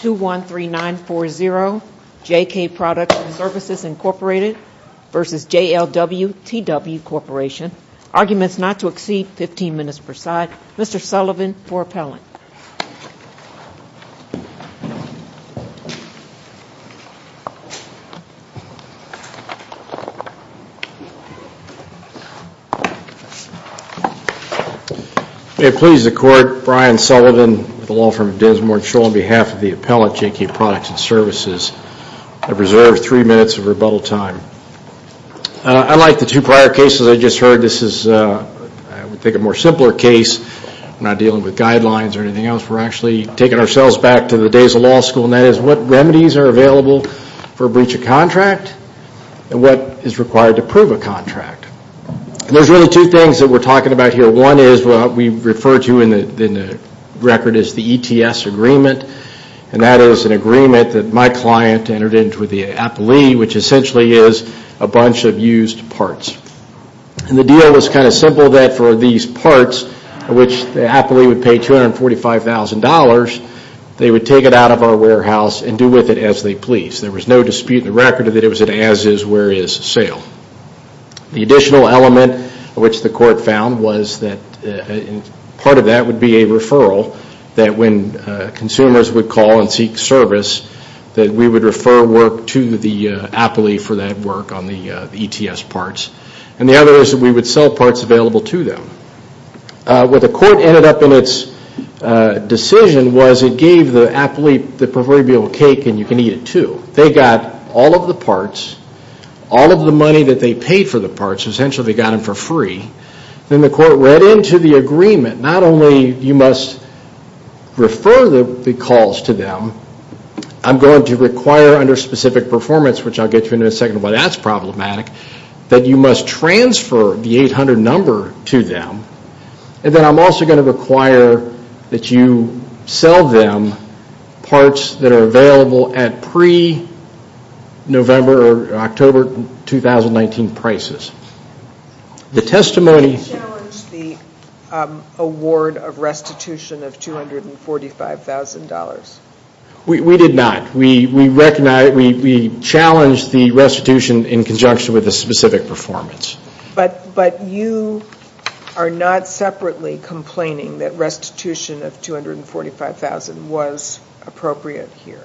213940 JK Products Services Inc v. JLW-TW Corp. Arguments not to exceed 15 minutes per side. Mr. Sullivan for appellant. It pleases the court, Brian Sullivan with the law firm of Des Moines Shoal, on behalf of the appellant, JK Products and Services, I preserve three minutes of rebuttal time. Unlike the two prior cases I just heard, this is, I would think, a more simpler case. We're not dealing with guidelines or anything else. We're actually taking ourselves back to the days of law school, and that is what remedies are available for a breach of contract and what is required to prove a contract. And there's really two things that we're talking about here. One is what we refer to in the record as the ETS agreement, and that is an agreement that my client entered into with the appellee, which essentially is a bunch of used parts. And the deal was kind of simple that for these parts, which the appellee would pay $245,000, they would take it out of our warehouse and do with it as they please. There was no dispute in the record that it was an as-is, where-is sale. The additional element which the court found was that part of that would be a referral that when consumers would call and seek service, that we would refer work to the appellee for that work on the ETS parts. And the other is that we would sell parts available to them. What the court ended up in its decision was it gave the appellee the proverbial cake and you can eat it too. They got all of the parts, all of the money that they paid for the parts, essentially they got them for free. Then the court read into the agreement, not only you must refer the calls to them, I'm going to require under specific performance, which I'll get to in a second why that's problematic, that you must transfer the 800 number to them, and then I'm also going to require that you sell them parts that are available at pre-November or October 2019 prices. The testimony... Did you challenge the award of restitution of $245,000? We did not. We recognized, we challenged the restitution in conjunction with the specific performance. But you are not separately complaining that restitution of $245,000 was appropriate here?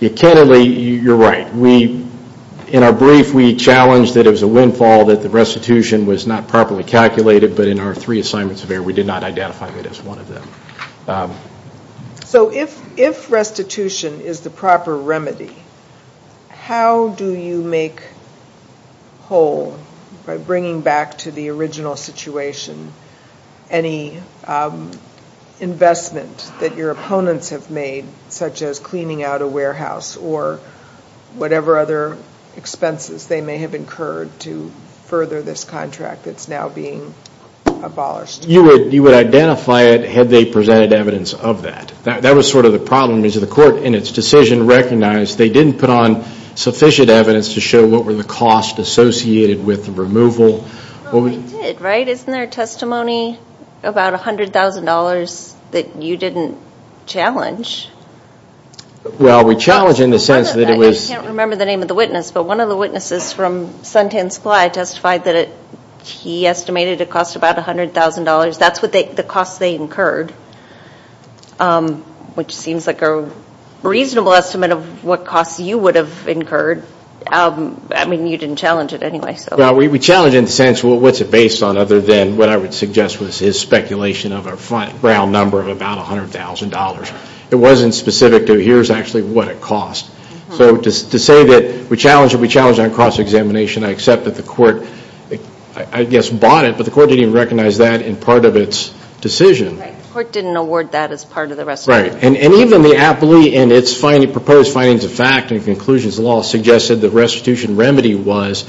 You're right. In our brief, we challenged that it was a windfall that the restitution was not properly calculated, but in our three assignments of error, we did not identify it as one of them. So if restitution is the proper remedy, how do you make whole, by bringing back to the original situation, any investment that your opponents have made, such as cleaning out a warehouse or whatever other expenses they may have incurred to further this contract that's now being abolished? You would identify it had they presented evidence of that. That was sort of the problem, because the court, in its decision, recognized they didn't put on sufficient evidence to show what were the costs associated with the removal. Well, we did, right? Isn't there a testimony about $100,000 that you didn't challenge? Well, we challenged in the sense that it was... I can't remember the name of the witness, but one of the witnesses from Suntan Supply testified that he estimated it cost about $100,000. That's the cost they incurred, which seems like a reasonable estimate of what cost you would have incurred. I mean, you didn't challenge it anyway, so... Well, we challenged in the sense, well, what's it based on, other than what I would suggest was his speculation of a round number of about $100,000. It wasn't specific to, here's actually what it cost. So to say that we challenged it, we challenged it on cross-examination, I accept that the court, I guess, bought it, but the court didn't even recognize that in part of its decision. Right. The court didn't award that as part of the restitution. Right. And even the appellee, in its proposed findings of fact and conclusions of law, suggested the restitution remedy was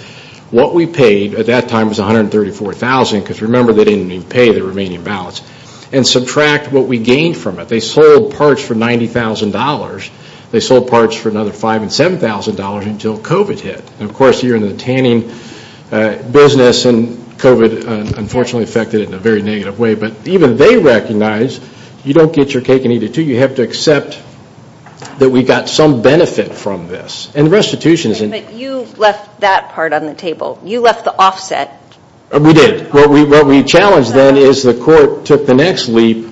what we paid at that time was $134,000, because remember they didn't even pay the remaining balance, and subtract what we gained from it. They sold parts for $90,000. They sold parts for another $5,000 and $7,000 until COVID hit. And of course, you're in the tanning business, and COVID unfortunately affected it in a very negative way. But even they recognize, you don't get your cake and eat it too. You have to accept that we got some benefit from this. And the restitution is... Wait a minute, you left that part on the table. You left the offset. We did. What we challenged then is the court took the next leap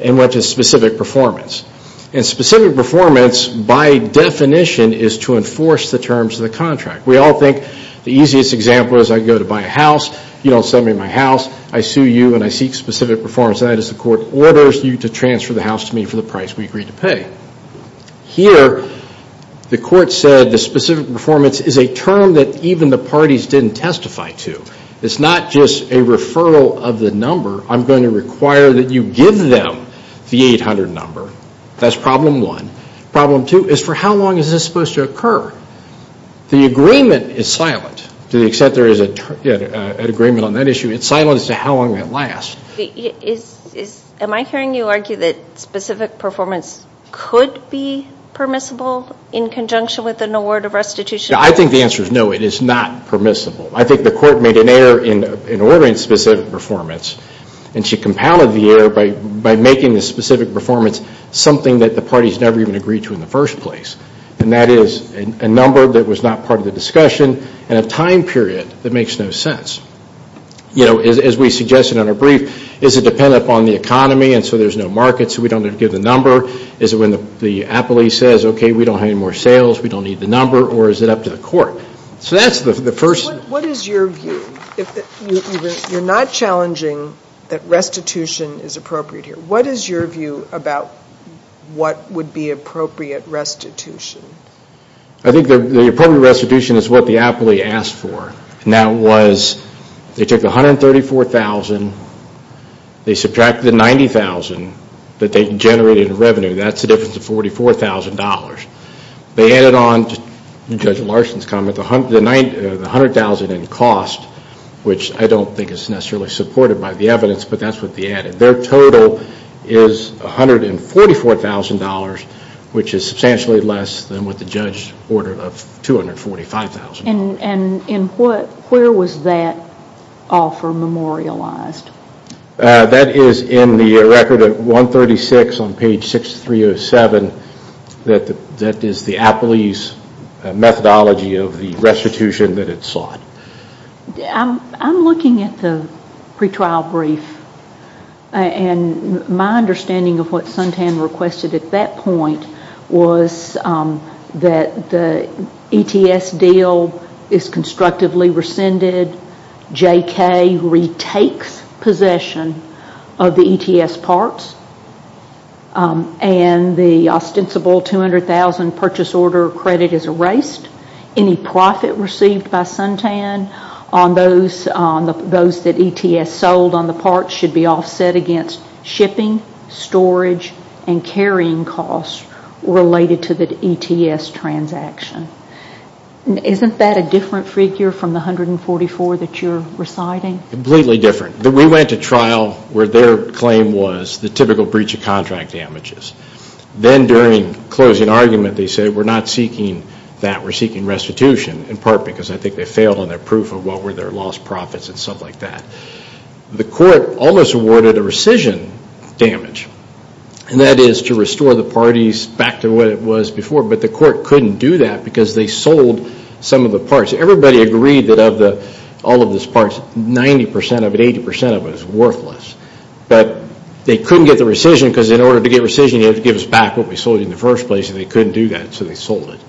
and went to specific performance. And specific performance, by definition, is to enforce the terms of the contract. We all think the easiest example is I go to buy a house. You don't sell me my house. I sue you and I seek specific performance, and that is the court orders you to transfer the house to me for the price we agreed to pay. Here, the court said the specific performance is a term that even the parties didn't testify to. It's not just a referral of the number. I'm going to require that you give them the 800 number. That's problem one. Problem two is for how long is this supposed to occur? The agreement is silent to the extent there is an agreement on that issue. It's silent as to how long it lasts. Am I hearing you argue that specific performance could be permissible in conjunction with an award of restitution? I think the answer is no, it is not permissible. I think the court made an error in ordering specific performance, and she compounded the error by making the specific performance something that the parties never even agreed to in the first place, and that is a number that was not part of the discussion and a time period that makes no sense. As we suggested on our brief, is it dependent upon the economy and so there's no market so we don't have to give the number? Is it when the appellee says, okay, we don't have any more sales, we don't need the number, or is it up to the court? So that's the first. What is your view? You're not challenging that restitution is appropriate here. What is your view about what would be appropriate restitution? I think the appropriate restitution is what the appellee asked for, and that was they took $134,000, they subtracted the $90,000 that they generated in revenue. That's the difference of $44,000. They added on, Judge Larson's comment, the $100,000 in cost, which I don't think is necessarily supported by the evidence, but that's what they added. Their total is $144,000, which is substantially less than what the judge ordered of $245,000. Where was that offer memorialized? That is in the record at 136 on page 6307. That is the appellee's methodology of the restitution that it sought. I'm looking at the pretrial brief, and my understanding of what Suntan requested at that point was that the ETS deal is constructively rescinded, JK retakes possession of the ETS parts, and the ostensible $200,000 purchase order credit is erased. Any profit received by Suntan on those that ETS sold on the parts should be offset against shipping, storage, and carrying costs related to the ETS transaction. Isn't that a different figure from the $144,000 that you're reciting? Completely different. We went to trial where their claim was the typical breach of contract damages. Then during closing argument, they said we're not seeking that, we're seeking restitution, in part because I think they failed on their proof of what were their lost profits and stuff like that. The court almost awarded a rescission damage, and that is to restore the parties back to what it was before, but the court couldn't do that because they sold some of the parts. Everybody agreed that of all of those parts, 90% of it, 80% of it was worthless, but they couldn't get the rescission because in order to get rescission, you had to give us back what we sold you in the first place, and they couldn't do that, so they sold it.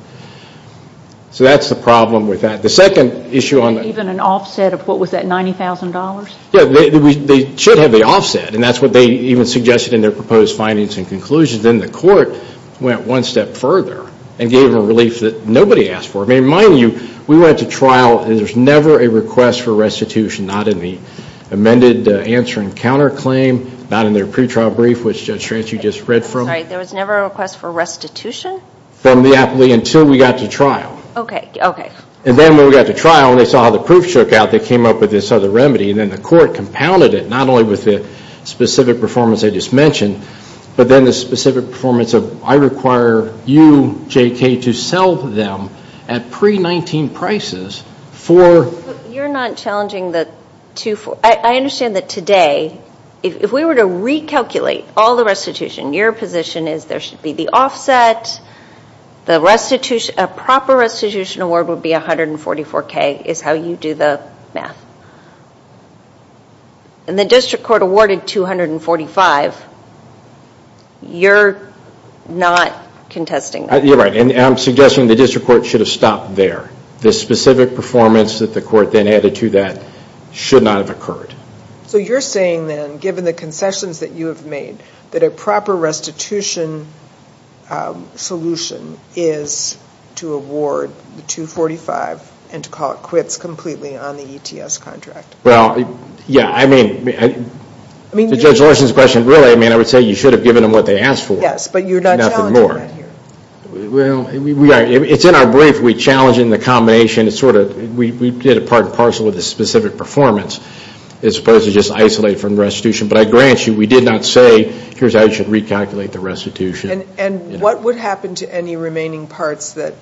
So that's the problem with that. The second issue on the- Even an offset of what was that, $90,000? Yeah, they should have the offset, and that's what they even suggested in their proposed findings and conclusions. Then the court went one step further and gave a relief that nobody asked for. I mean, mind you, we went to trial and there's never a request for restitution, not in the amended answer and counterclaim, not in their pretrial brief, which Judge Schrantz, you just read from. I'm sorry, there was never a request for restitution? From the appellee until we got to trial. Okay, okay. And then when we got to trial, and they saw how the proof shook out, they came up with this other remedy, and then the court compounded it, not only with the specific performance I just mentioned, but then the specific performance of, I require you, JK, to sell them at pre-19 prices for- You're not challenging the two, I understand that today, if we were to recalculate all the restitution, your position is there should be the offset, a proper restitution award would be $144,000, is how you do the math. And the district court awarded $245,000, you're not contesting that. You're right, and I'm suggesting the district court should have stopped there. The specific performance that the court then added to that should not have occurred. So you're saying then, given the concessions that you have made, that a proper restitution solution is to award the $245,000 and to call it quits completely on the ETS contract? Well, yeah, I mean, to Judge Larson's question, really, I mean, I would say you should have given them what they asked for. Yes, but you're not challenging that here. Well, it's in our brief, we challenge it in the combination, it's sort of, we did a part and parcel with the specific performance. It's supposed to just isolate from restitution, but I grant you, we did not say, here's how you should recalculate the restitution. And what would happen to any remaining parts that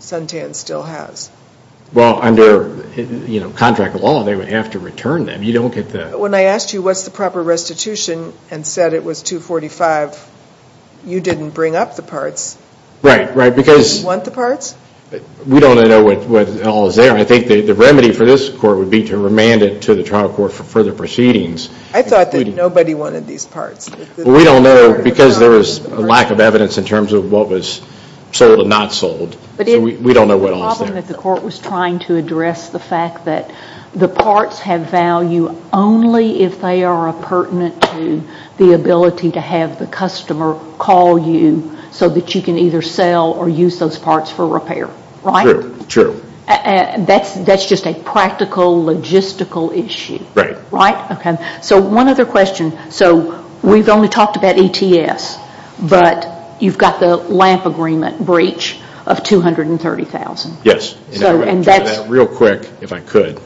Suntan still has? Well, under contract law, they would have to return them, you don't get the... When I asked you what's the proper restitution and said it was $245,000, you didn't bring up the parts. Right, right, because... Do you want the parts? We don't know what all is there. I think the remedy for this court would be to remand it to the trial court for further proceedings. I thought that nobody wanted these parts. Well, we don't know because there was a lack of evidence in terms of what was sold and not sold. So we don't know what all is there. The problem that the court was trying to address the fact that the parts have value only if they are appurtenant to the ability to have the customer call you so that you can either sell or use those parts for repair, right? True, true. That's just a practical, logistical issue. Right. Right? Okay. So one other question. So we've only talked about ETS, but you've got the LAMP agreement breach of $230,000. Yes. Real quick, if I could.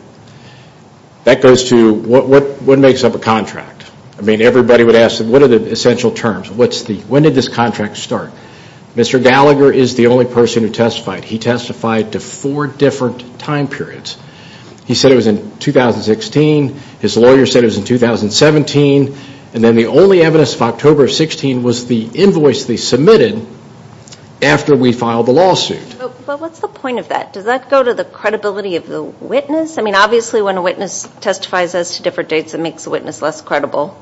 That goes to what makes up a contract? I mean, everybody would ask, what are the essential terms? When did this contract start? Mr. Gallagher is the only person who testified. He testified to four different time periods. He said it was in 2016. His lawyer said it was in 2017. And then the only evidence of October of 16 was the invoice they submitted after we filed the lawsuit. But what's the point of that? Does that go to the credibility of the witness? I mean, obviously, when a witness testifies as to different dates, it makes the witness less credible.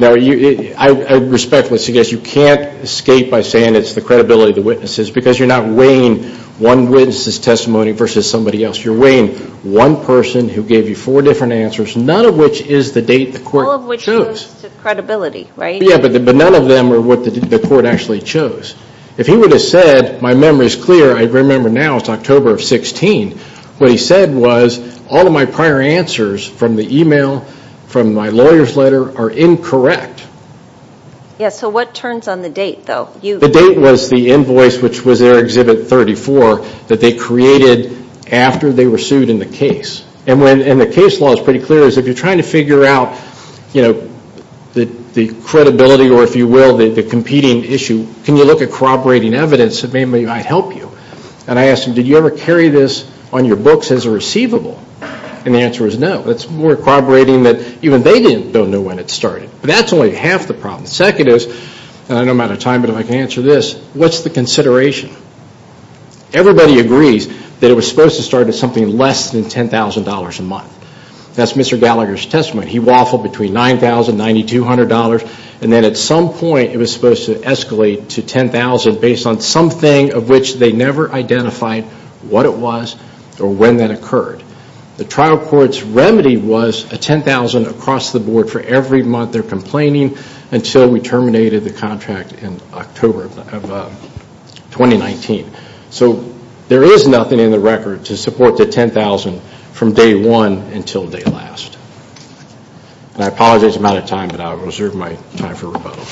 Now, I respectfully suggest you can't escape by saying it's the credibility of the witnesses because you're not weighing one witness's testimony versus somebody else. You're weighing one person who gave you four different answers, none of which is the date the court chose. All of which goes to credibility, right? Yeah, but none of them are what the court actually chose. If he would have said, my memory is clear, I remember now it's October of 16. What he said was, all of my prior answers from the email, from my lawyer's letter, are incorrect. Yeah, so what turns on the date, though? The date was the invoice, which was their Exhibit 34, that they created after they were sued in the case. And the case law is pretty clear. If you're trying to figure out the credibility, or if you will, the competing issue, can you look at corroborating evidence that may or may not help you? And I asked him, did you ever carry this on your books as a receivable? And the answer is no. It's more corroborating that even they don't know when it started. That's only half the problem. Second is, and I know I'm out of time, but if I can answer this, what's the consideration? Everybody agrees that it was supposed to start at something less than $10,000 a month. That's Mr. Gallagher's testimony. He waffled between $9,000, $9,200, and then at some point it was supposed to escalate to $10,000 based on something of which they never identified what it was or when that occurred. The trial court's remedy was a $10,000 across the board for every month they're complaining until we terminated the contract in October of 2019. So there is nothing in the record to support the $10,000 from day one until day last. And I apologize I'm out of time, but I'll reserve my time for rebuttal.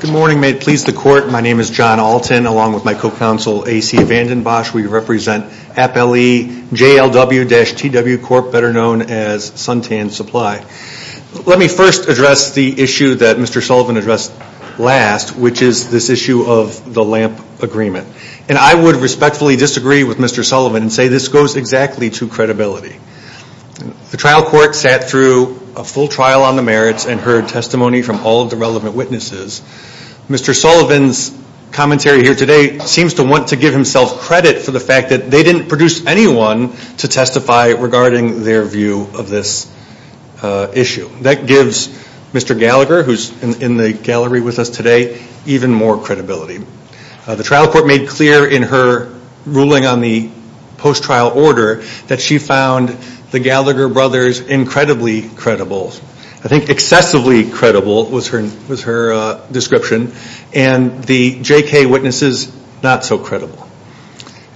Good morning. May it please the court. My name is John Alton along with my co-counsel A.C. Vandenbosch. We represent Appellee JLW-TW Corp., better known as Suntan Supply. Let me first address the issue that Mr. Sullivan addressed last, which is this issue of the LAMP agreement. And I would respectfully disagree with Mr. Sullivan and say this goes exactly to credibility. The trial court sat through a full trial on the merits and heard testimony from all of the relevant witnesses. Mr. Sullivan's commentary here today seems to want to give himself credit for the fact that they didn't produce anyone to testify regarding their view of this issue. That gives Mr. Gallagher, who's in the gallery with us today, even more credibility. The trial court made clear in her ruling on the post-trial order that she found the Gallagher brothers incredibly credible. I think excessively credible was her description. And the J.K. witnesses, not so credible.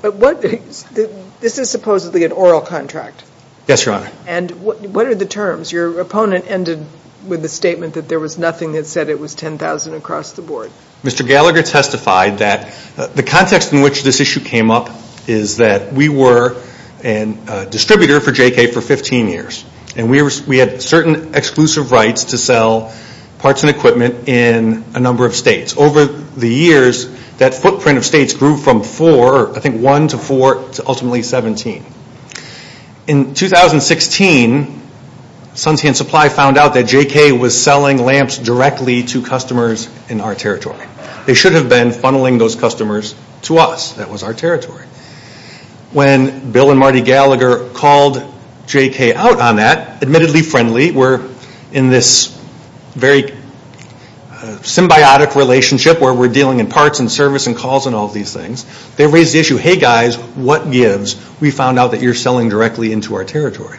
This is supposedly an oral contract. Yes, Your Honor. And what are the terms? Your opponent ended with the statement that there was nothing that said it was 10,000 across the board. Mr. Gallagher testified that the context in which this issue came up is that we were a distributor for J.K. for 15 years. And we had certain exclusive rights to sell parts and equipment in a number of states. Over the years, that footprint of states grew from four, I think one to four, to ultimately 17. In 2016, Sunsea and Supply found out that J.K. was selling lamps directly to customers in our territory. They should have been funneling those customers to us. That was our territory. When Bill and Marty Gallagher called J.K. out on that, admittedly friendly. We're in this very symbiotic relationship where we're dealing in parts and service and calls and all these things. They raised the issue, hey guys, what gives? We found out that you're selling directly into our territory.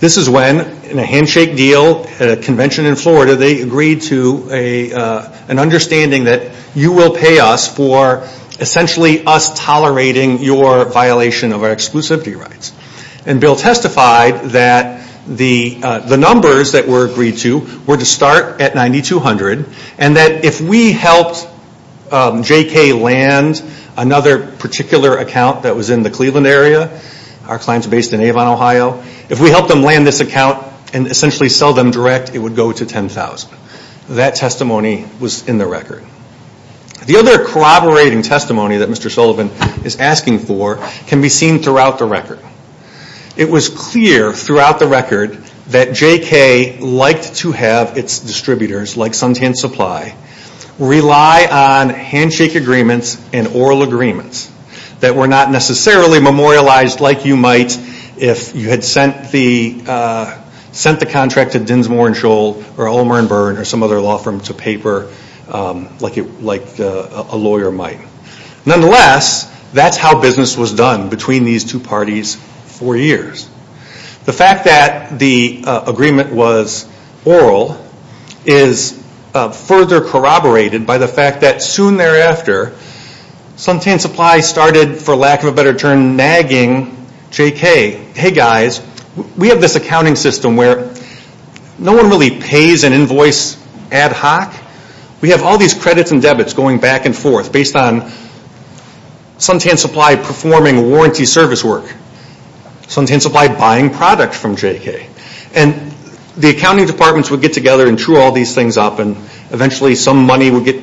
This is when, in a handshake deal at a convention in Florida, they agreed to an understanding that you will pay us for essentially us tolerating your violation of our exclusivity rights. And Bill testified that the numbers that were agreed to were to start at 9,200 and that if we helped J.K. land another particular account that was in the Cleveland area, our clients based in Avon, Ohio, if we helped them land this account and essentially sell them direct, it would go to 10,000. That testimony was in the record. The other corroborating testimony that Mr. Sullivan is asking for can be seen throughout the record. It was clear throughout the record that J.K. liked to have its distributors, like Suntan Supply, rely on handshake agreements and oral agreements that were not necessarily memorialized like you might if you had sent the contract to Dinsmore & Scholl or Ulmer & Byrne or some other law firm to paper like a lawyer might. Nonetheless, that's how business was done between these two parties for years. The fact that the agreement was oral is further corroborated by the fact that soon thereafter, Suntan Supply started, for lack of a better term, nagging J.K., Hey guys, we have this accounting system where no one really pays an invoice ad hoc. We have all these credits and debits going back and forth based on Suntan Supply performing warranty service work, Suntan Supply buying product from J.K. The accounting departments would get together and chew all these things up and eventually some money would get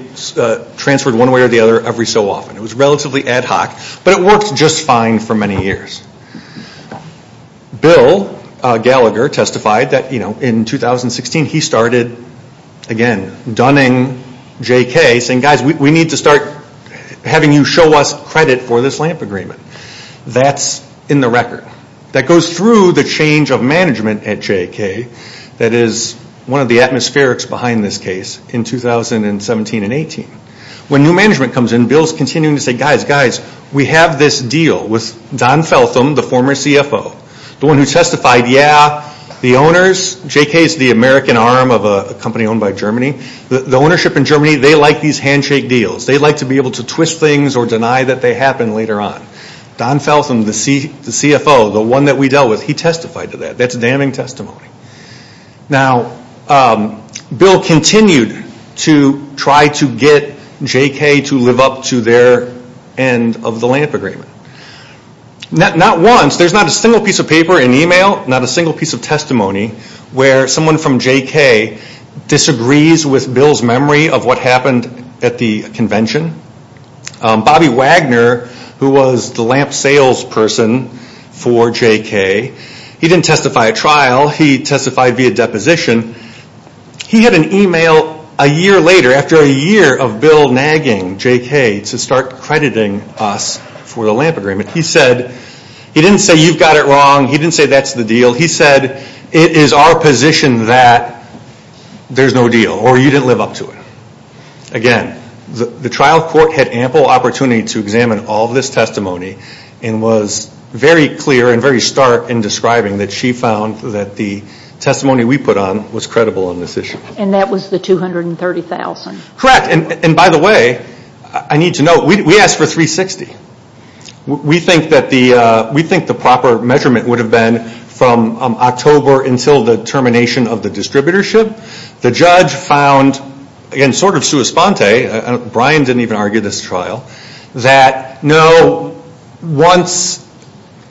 transferred one way or the other every so often. It was relatively ad hoc, but it worked just fine for many years. Bill Gallagher testified that in 2016 he started again dunning J.K. saying guys, we need to start having you show us credit for this LAMP agreement. That's in the record. That goes through the change of management at J.K. that is one of the atmospherics behind this case in 2017 and 18. When new management comes in, Bill's continuing to say guys, guys, we have this deal with Don Feltham, the former CFO. The one who testified, yeah, the owners, J.K. is the American arm of a company owned by Germany. The ownership in Germany, they like these handshake deals. They like to be able to twist things or deny that they happened later on. Don Feltham, the CFO, the one that we dealt with, he testified to that. That's damning testimony. Now, Bill continued to try to get J.K. to live up to their end of the LAMP agreement. Not once, there's not a single piece of paper in email, not a single piece of testimony where someone from J.K. disagrees with Bill's memory of what happened at the convention. Bobby Wagner, who was the LAMP salesperson for J.K., he didn't testify at trial. While he testified via deposition, he had an email a year later, after a year of Bill nagging J.K. to start crediting us for the LAMP agreement. He said, he didn't say you've got it wrong. He didn't say that's the deal. He said, it is our position that there's no deal or you didn't live up to it. Again, the trial court had ample opportunity to examine all this testimony and was very clear and very stark in describing that she found that the testimony we put on was credible in this issue. And that was the $230,000? Correct. And by the way, I need to note, we asked for $360,000. We think the proper measurement would have been from October until the termination of the distributorship. The judge found, again, sort of sua sponte, Brian didn't even argue this trial, that no, once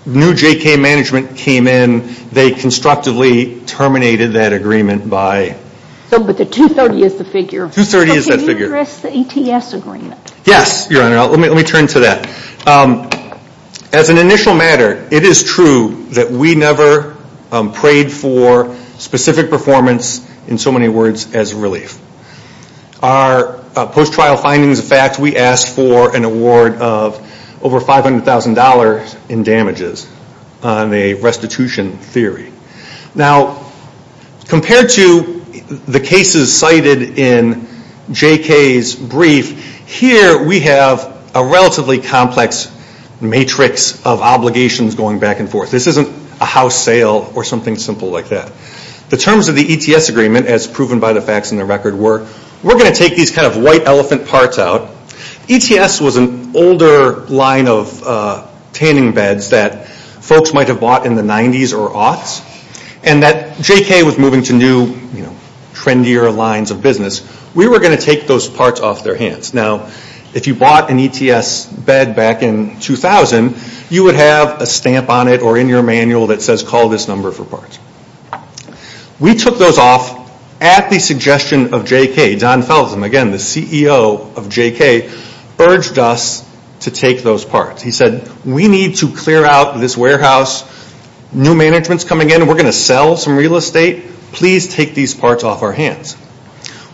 new J.K. management came in, they constructively terminated that agreement by... But the $230,000 is the figure. $230,000 is that figure. Can you address the ETS agreement? Yes, Your Honor. Let me turn to that. As an initial matter, it is true that we never prayed for specific performance, in so many words, as relief. Our post-trial findings of fact, we asked for an award of over $500,000 in damages on a restitution theory. Now, compared to the cases cited in J.K.'s brief, here we have a relatively complex matrix of obligations going back and forth. This isn't a house sale or something simple like that. The terms of the ETS agreement, as proven by the facts in the record, were we're going to take these kind of white elephant parts out. ETS was an older line of tanning beds that folks might have bought in the 90s or aughts, and that J.K. was moving to new, trendier lines of business. We were going to take those parts off their hands. Now, if you bought an ETS bed back in 2000, you would have a stamp on it or in your manual that says, call this number for parts. We took those off at the suggestion of J.K. Don Feldman, again, the CEO of J.K., urged us to take those parts. He said, we need to clear out this warehouse. New management's coming in. We're going to sell some real estate. Please take these parts off our hands.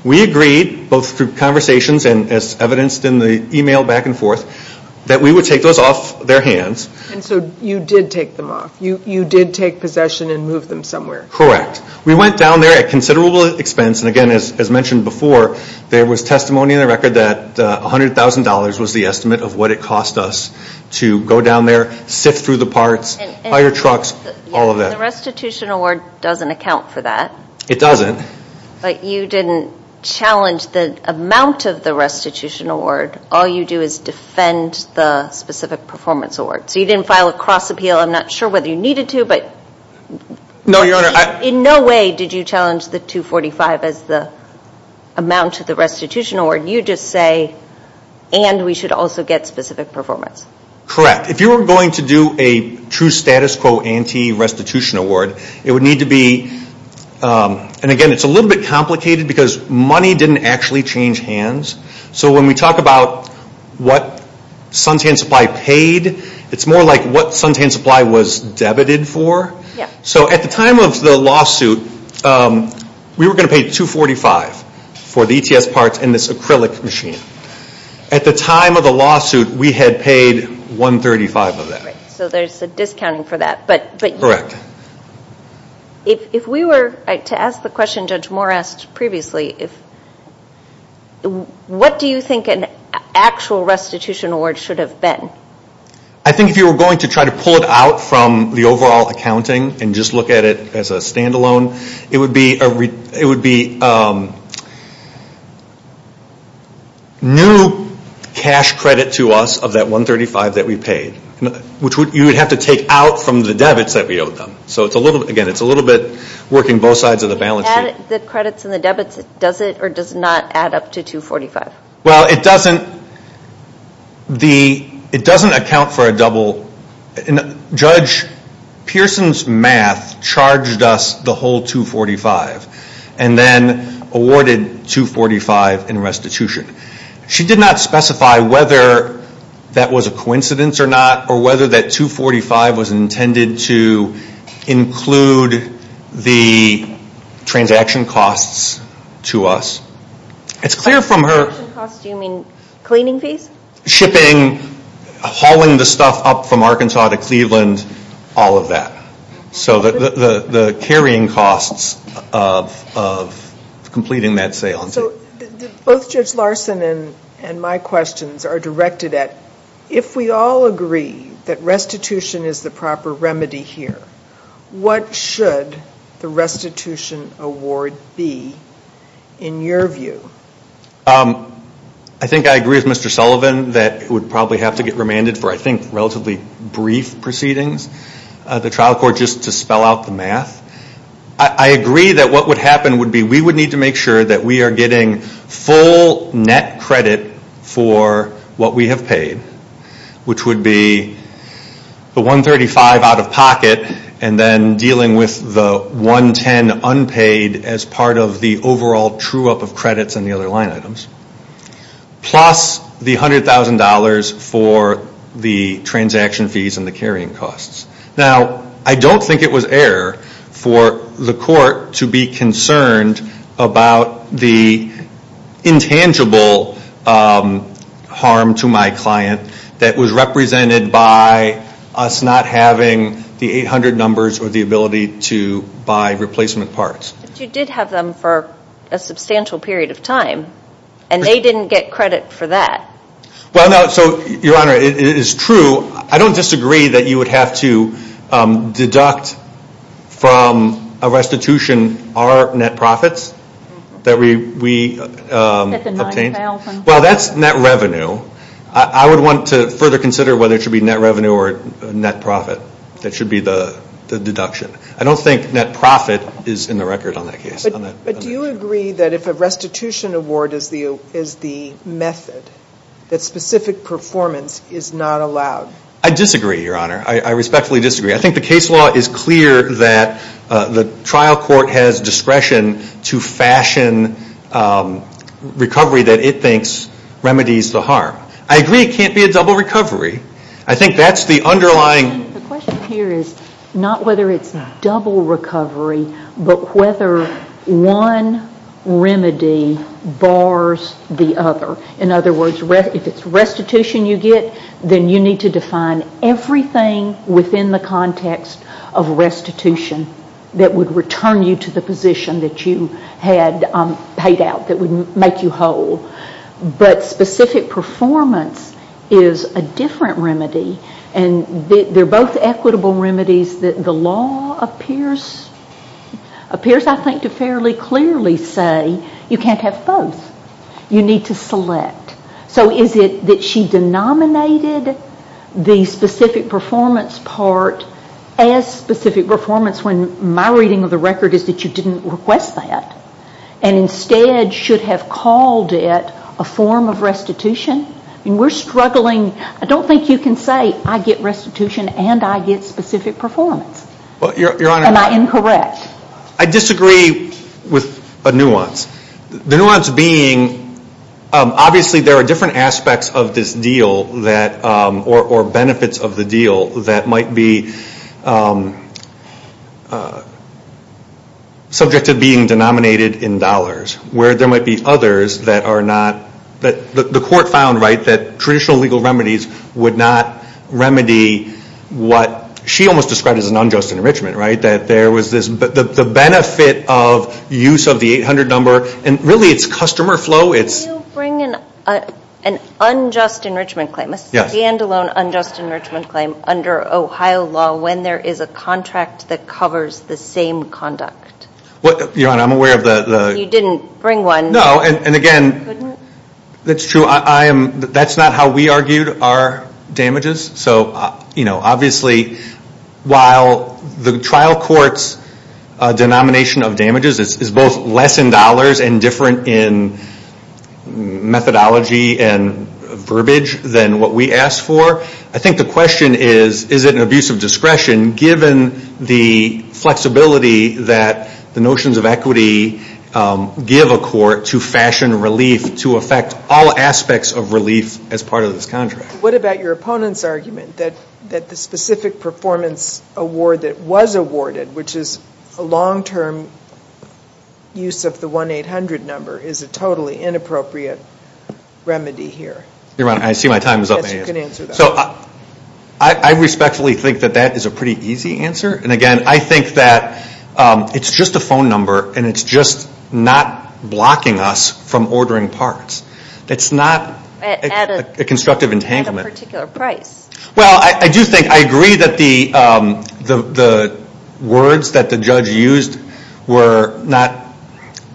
We agreed, both through conversations and as evidenced in the email back and forth, that we would take those off their hands. And so you did take them off. You did take possession and move them somewhere. Correct. We went down there at considerable expense. And again, as mentioned before, there was testimony in the record that $100,000 was the estimate of what it cost us to go down there, sift through the parts, hire trucks, all of that. The restitution award doesn't account for that. It doesn't. But you didn't challenge the amount of the restitution award. All you do is defend the specific performance award. So you didn't file a cross appeal. I'm not sure whether you needed to. No, Your Honor. In no way did you challenge the $245,000 as the amount of the restitution award. You just say, and we should also get specific performance. Correct. If you were going to do a true status quo anti-restitution award, it would need to be, and again, it's a little bit complicated because money didn't actually change hands. So when we talk about what Suntan Supply paid, it's more like what Suntan Supply was debited for. So at the time of the lawsuit, we were going to pay $245,000 for the ETS parts and this acrylic machine. At the time of the lawsuit, we had paid $135,000 of that. So there's a discounting for that. Correct. If we were to ask the question Judge Moore asked previously, what do you think an actual restitution award should have been? I think if you were going to try to pull it out from the overall accounting and just look at it as a standalone, it would be new cash credit to us of that $135,000 that we paid, which you would have to take out from the debits that we owed them. So again, it's a little bit working both sides of the balance sheet. The credits and the debits, does it or does it not add up to $245,000? Well, it doesn't. It doesn't account for a double. Judge Pearson's math charged us the whole $245,000 and then awarded $245,000 in restitution. She did not specify whether that was a coincidence or not to include the transaction costs to us. Transaction costs, do you mean cleaning fees? Shipping, hauling the stuff up from Arkansas to Cleveland, all of that. So the carrying costs of completing that sale. Both Judge Larson and my questions are directed at if we all agree that restitution is the proper remedy here, what should the restitution award be in your view? I think I agree with Mr. Sullivan that it would probably have to get remanded for I think relatively brief proceedings. The trial court just to spell out the math. I agree that what would happen would be we would need to make sure that we are getting full net credit for what we have paid, which would be the $135,000 out of pocket and then dealing with the $110,000 unpaid as part of the overall true up of credits and the other line items. Plus the $100,000 for the transaction fees and the carrying costs. Now, I don't think it was error for the court to be concerned about the intangible harm to my client that was represented by us not having the 800 numbers or the ability to buy replacement parts. But you did have them for a substantial period of time and they didn't get credit for that. Well, no. So, Your Honor, it is true. I don't disagree that you would have to deduct from a restitution our net profits that we obtained. Well, that's net revenue. I would want to further consider whether it should be net revenue or net profit. That should be the deduction. I don't think net profit is in the record on that case. But do you agree that if a restitution award is the method that specific performance is not allowed? I disagree, Your Honor. I respectfully disagree. I think the case law is clear that the trial court has discretion to fashion recovery that it thinks remedies the harm. I agree it can't be a double recovery. I think that's the underlying... The question here is not whether it's double recovery but whether one remedy bars the other. In other words, if it's restitution you get, then you need to define everything within the context of restitution that would return you to the position that you had paid out, that would make you whole. But specific performance is a different remedy and they're both equitable remedies that the law appears, I think, to fairly clearly say you can't have both. You need to select. So is it that she denominated the specific performance part as specific performance when my reading of the record is that you didn't request that and instead should have called it a form of restitution? We're struggling. I don't think you can say I get restitution and I get specific performance. Am I incorrect? I disagree with a nuance. The nuance being obviously there are different aspects of this deal or benefits of the deal that might be subject to being denominated in dollars where there might be others that are not... The court found that traditional legal remedies would not remedy what she almost described as an unjust enrichment. That there was this... The benefit of use of the 800 number and really it's customer flow. Can you bring in an unjust enrichment claim? Yes. A standalone unjust enrichment claim under Ohio law when there is a contract that covers the same conduct? Your Honor, I'm aware of the... You didn't bring one. No, and again... You couldn't? That's true. That's not how we argued our damages. So obviously while the trial court's denomination of damages is both less in dollars and different in methodology and verbiage than what we asked for. I think the question is is it an abuse of discretion given the flexibility that the notions of equity give a court to fashion relief to affect all aspects of relief as part of this contract? What about your opponent's argument that the specific performance award that was awarded which is a long-term use of the 1-800 number is a totally inappropriate remedy here? Your Honor, I see my time is up. Yes, you can answer that. I respectfully think that that is a pretty easy answer. And again, I think that it's just a phone number and it's just not blocking us from ordering parts. It's not a constructive entanglement. At a particular price. Well, I do think I agree that the words that the judge used were not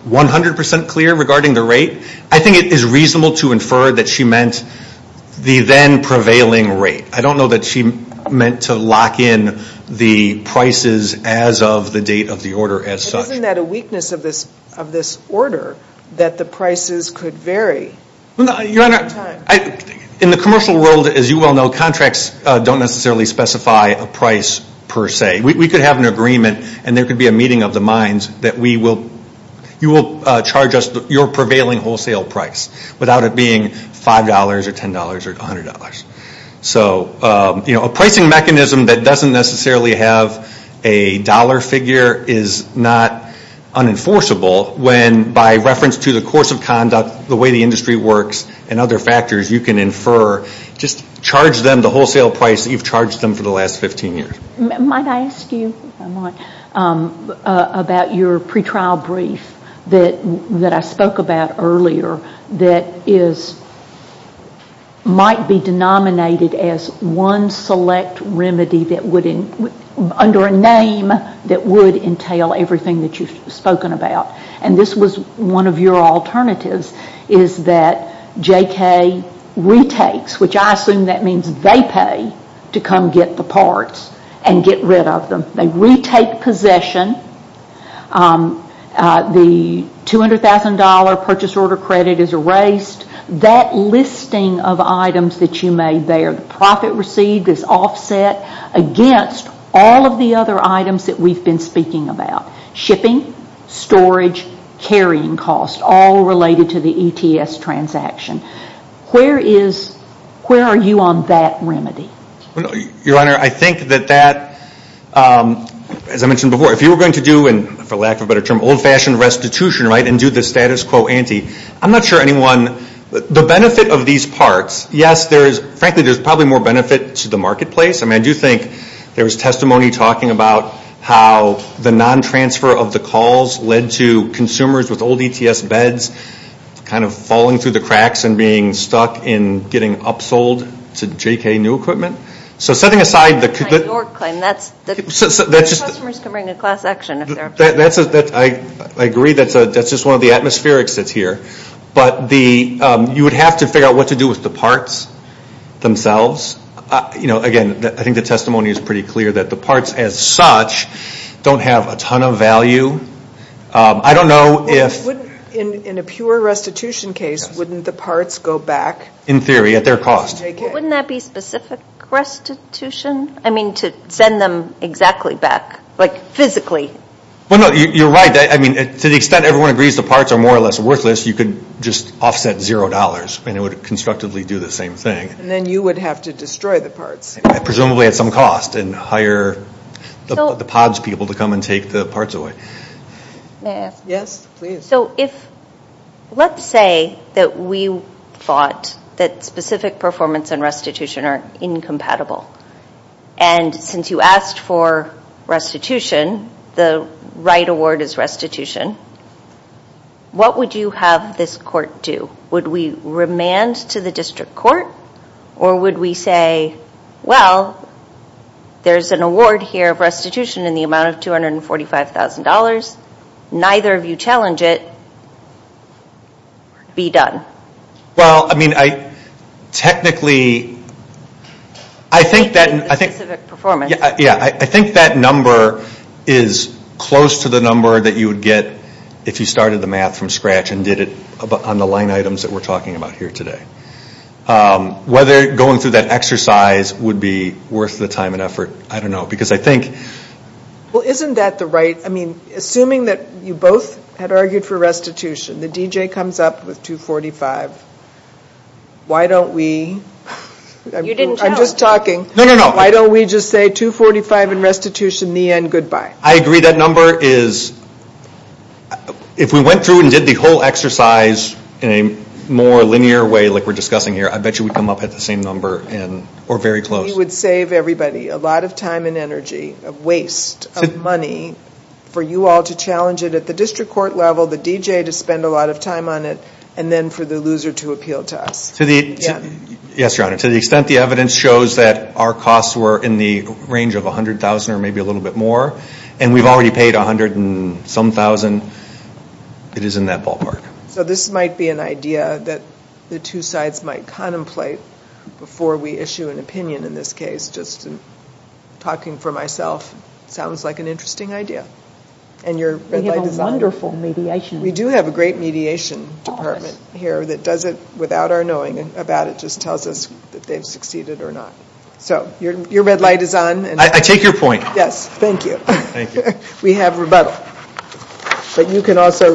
100% clear regarding the rate. I think it is reasonable to infer that she meant the then prevailing rate. I don't know that she meant to lock in the prices as of the date of the order as such. Isn't that a weakness of this order that the prices could vary Your Honor, in the commercial world as you well know contracts don't necessarily specify a price per se. We could have an agreement and there could be a meeting of the minds that we will you will charge us your prevailing wholesale price without it being $5 or $10 or $100. So, a pricing mechanism that doesn't necessarily have a dollar figure is not unenforceable when by reference to the course of conduct the way the industry works and other factors you can infer just charge them the wholesale price that you've charged them for the last 15 years. Might I ask you if I might about your pre-trial brief that I spoke about earlier that is might be denominated as one select remedy that would under a name that would entail everything that you've spoken about and this was one of your alternatives is that JK retakes which I assume that means they pay to come get the parts and get rid of them. They retake possession the $200,000 purchase order credit is erased of items that you made there. The profit received is offset against all of the other items that we've been speaking about. Shipping, storage, carrying costs all related to the ETS transaction. Where is where are you on that remedy? Your Honor I think that as I mentioned before if you were going to do and for lack of a better term old-fashioned restitution and do the status quo ante I'm not sure anyone the benefit of these parts yes there is frankly there is probably more benefit to the marketplace I do think there was testimony talking about how the non-transfer of the calls led to consumers with old ETS beds kind of falling through the cracks and being stuck in getting upsold to JK new equipment so setting aside I agree that's one of the atmospherics that's here but you would have to figure out what to do with the parts themselves again I think the testimony is pretty clear that the parts as such don't have a ton of value I don't know if in a pure restitution case wouldn't the parts go back in theory at their cost wouldn't that be specific restitution I mean to send them exactly back like physically well no you're right to the extent everyone agrees the parts are worthless you can just offset zero dollars and it would constructively do the same thing presumably at some cost and hire and restitution are incompatible and since you asked for restitution the right award is restitution what would you have this court do would we remand to the district court or would we say well there's an award here restitution in the amount of $245,000 neither of you challenge it be done well I mean technically I think that performance yeah I think that number is close to the number that you would get if you started the math from scratch and did it on the line items that we're talking about here today whether going through that exercise would be worth the time and effort I don't know because I think well isn't that the right I mean assuming that you both had argued for restitution the comes up with $245,000 why don't we I'm just talking why don't we just say $245,000 restitution the end goodbye I agree that number is if we went through and did the whole exercise in a more linear way like we're discussing here I bet you would come up at the same number or very close a lot of time and energy waste of money for you all to challenge it at the district court level and then for the loser to this case in talking for myself interesting idea and wonderful mediation great mediation here it they've succeeded so red light I take your point yes we have me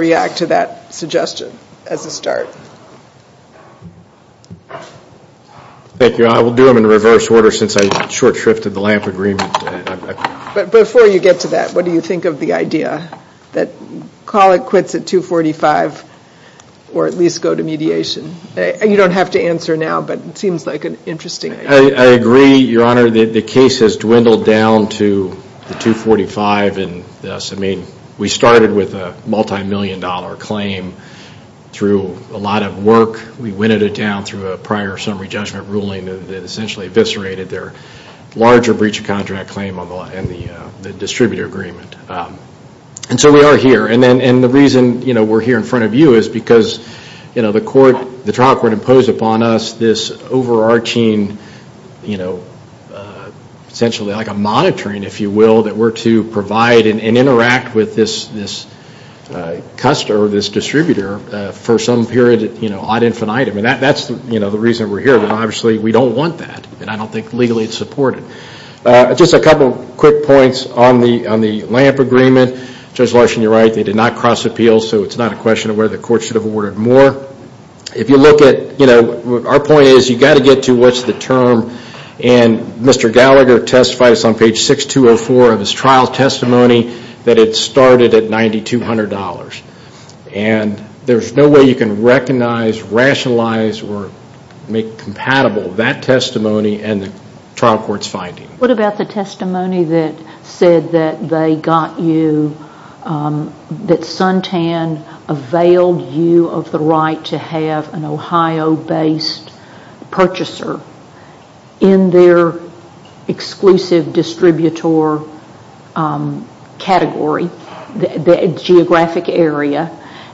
react to that suggestion as a start thank you I will do it in reverse order since I short shrifted the lamp agreement but before you get to that what do you think of the idea that call it quits at 245 or at least go to mediation and you don't have to answer now but it seems like an interesting I agree your honor that the case has dwindled down to 245 and yes I mean we started with a multi-million dollar claim through a lot of work we went down through a prior summary judgment ruling that essentially eviscerated their larger breach of contract claim on the distributor agreement and so we are here and then and the reason you know we're here in front of you is because you know the court the trial court imposed upon us this overarching you know essentially like a monitoring if you will that were to provide and interact with this this customer this distributor for some period you know on infinite I mean that that's the you know the reason we're here but obviously we don't want that and I don't think legally it's supported just a couple quick points on the on the lamp agreement Judge Larson you're right they did not cross appeal so it's not a question of where the court should have ordered more if you look at you know our point is you got to get to what's the term and Mr. Gallagher testifies on page 6204 of his trial testimony that it started at $9,200 and there's no way you can recognize rationalize or make compatible that testimony and the trial court's finding. What about the testimony that said that they got you that Suntan availed you of the right to have an Ohio based purchaser in their exclusive distributor category the geographic area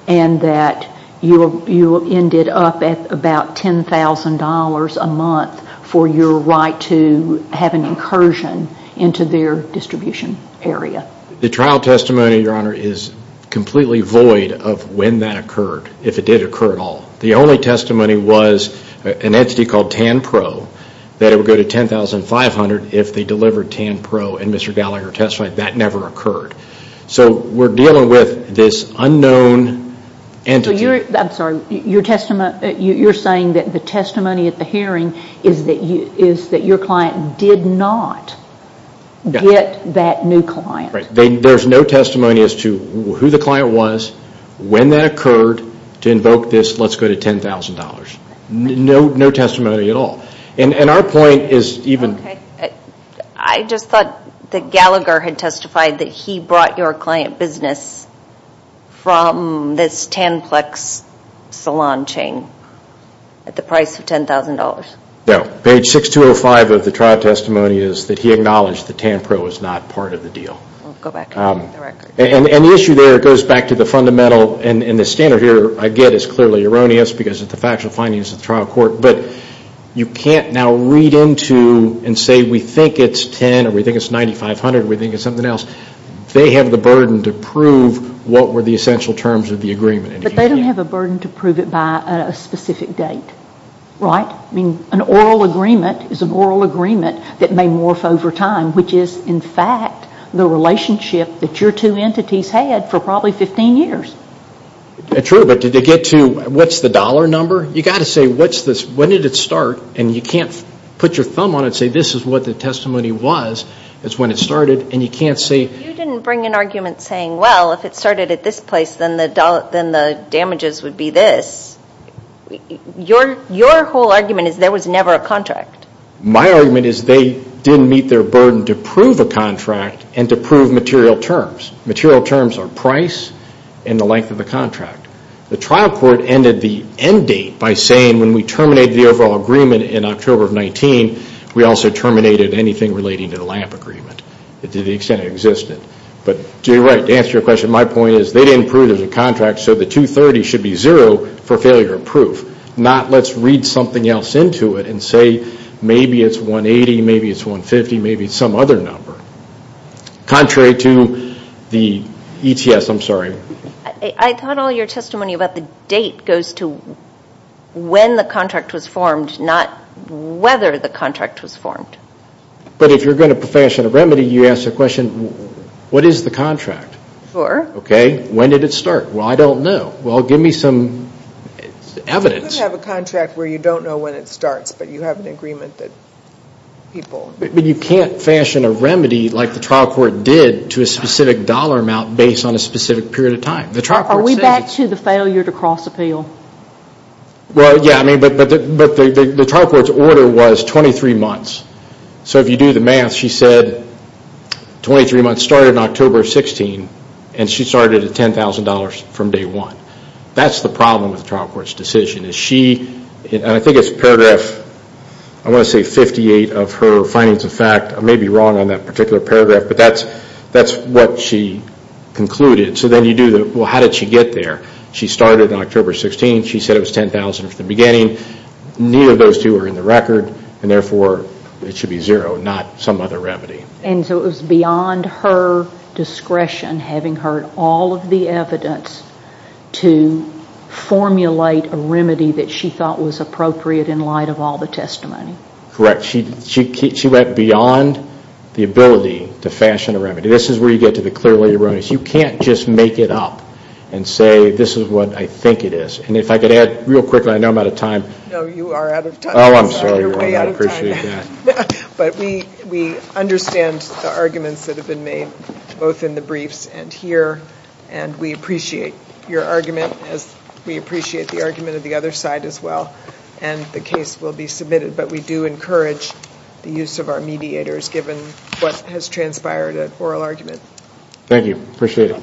and that you ended up at about $10,000 a month for your right to have an incursion into their distribution area? The trial testimony your honor is completely void of when that occurred if it did occur at all. The only testimony was an entity called TANPRO that it would go to $10,500 if they delivered TANPRO and Mr. Gallagher testified that never occurred. So we're dealing with this unknown entity. I'm sorry your testimony you're saying that the testimony at the hearing is that you is that your client did not get that new client. There's no testimony as to who the client was when that occurred to invoke this let's go to $10,000. No testimony at all. And our point is even... I just thought that Gallagher had testified that he brought your client business from this TANPLEX salon chain at the price of $10,000. No, page 6205 of the trial testimony is that he acknowledged that TANPRO was not part of the deal. And the issue there goes back to the fundamental and the standard here I get is clearly erroneous because it's the factual findings of the trial court but you can't now read into and say we think it's $10,000 or we think it's $9,500 or we think it's something else. They have the burden to prove what were the essential terms of the agreement. But they don't have a burden to prove it by a specific date, right? I mean an oral agreement is an oral agreement that may morph over time which is in fact the relationship that your two entities had for probably 15 years. True, but did they get to what's the dollar number? You got to say what's this, when did it start? And you can't put your thumb on it and say this is what the testimony was. That's when it started and you can't say... You didn't bring an argument saying well if it started at this place then the damages would be this. Your whole argument is there was never a contract. My argument is they didn't meet their burden to prove a contract and to prove material terms. Material terms are price and the length of the contract. The trial court ended the end date by saying when we terminated the overall agreement in October of 19, we also terminated anything relating to the LAMP agreement to the extent it existed. But to answer your question, my point is they didn't prove there was a contract so the 230 should be zero for failure of proof. Not let's read something else into it and say maybe it's 180, maybe it's 150, maybe some other number. Contrary to the ETS, I'm sorry. I thought all your testimony about the date goes to when the contract was formed, not whether the contract was formed. But if you're going to fashion a remedy, you ask the question what is the contract? Sure. Okay, when did it start? Well, I don't know. Well, give me some evidence. You could have a contract where you don't know when it starts but you have an agreement that people. But you can't fashion a remedy like the trial court did to a specific dollar amount based on a specific period of time. Are we back to the failure to cross appeal? Well, yeah, but the trial court's order was 23 months. So if you do the math, she said 23 months started on October 16 and she started at $10,000 from day one. That's the problem with the trial court's decision. She, and I think it's paragraph, I want to say 58 of her findings of fact. I may be wrong on that particular paragraph but that's what she concluded. So then you do the, well, how did she get there? She started on October 16, she said it was $10,000 at the beginning. Neither of those two are in the record and therefore it should be zero, not some other remedy. And so it was beyond her discretion, having heard all of the evidence, to formulate a remedy that she thought was appropriate in light of all the testimony? Correct. She went beyond the ability to fashion a remedy. This is where you get to the clearly erroneous. You can't just make it up and say this is what I think it is. And if I could add real quickly, I know I'm out of time. No, you are out of time. Oh, I'm sorry. You're way out of time. I appreciate that. But we understand the arguments that have been made both in the briefs and here. And we appreciate your argument as we appreciate the argument of the other side as well. And the case will be submitted. But we do encourage the use of our mediators given what has transpired at oral argument. Thank you, appreciate it.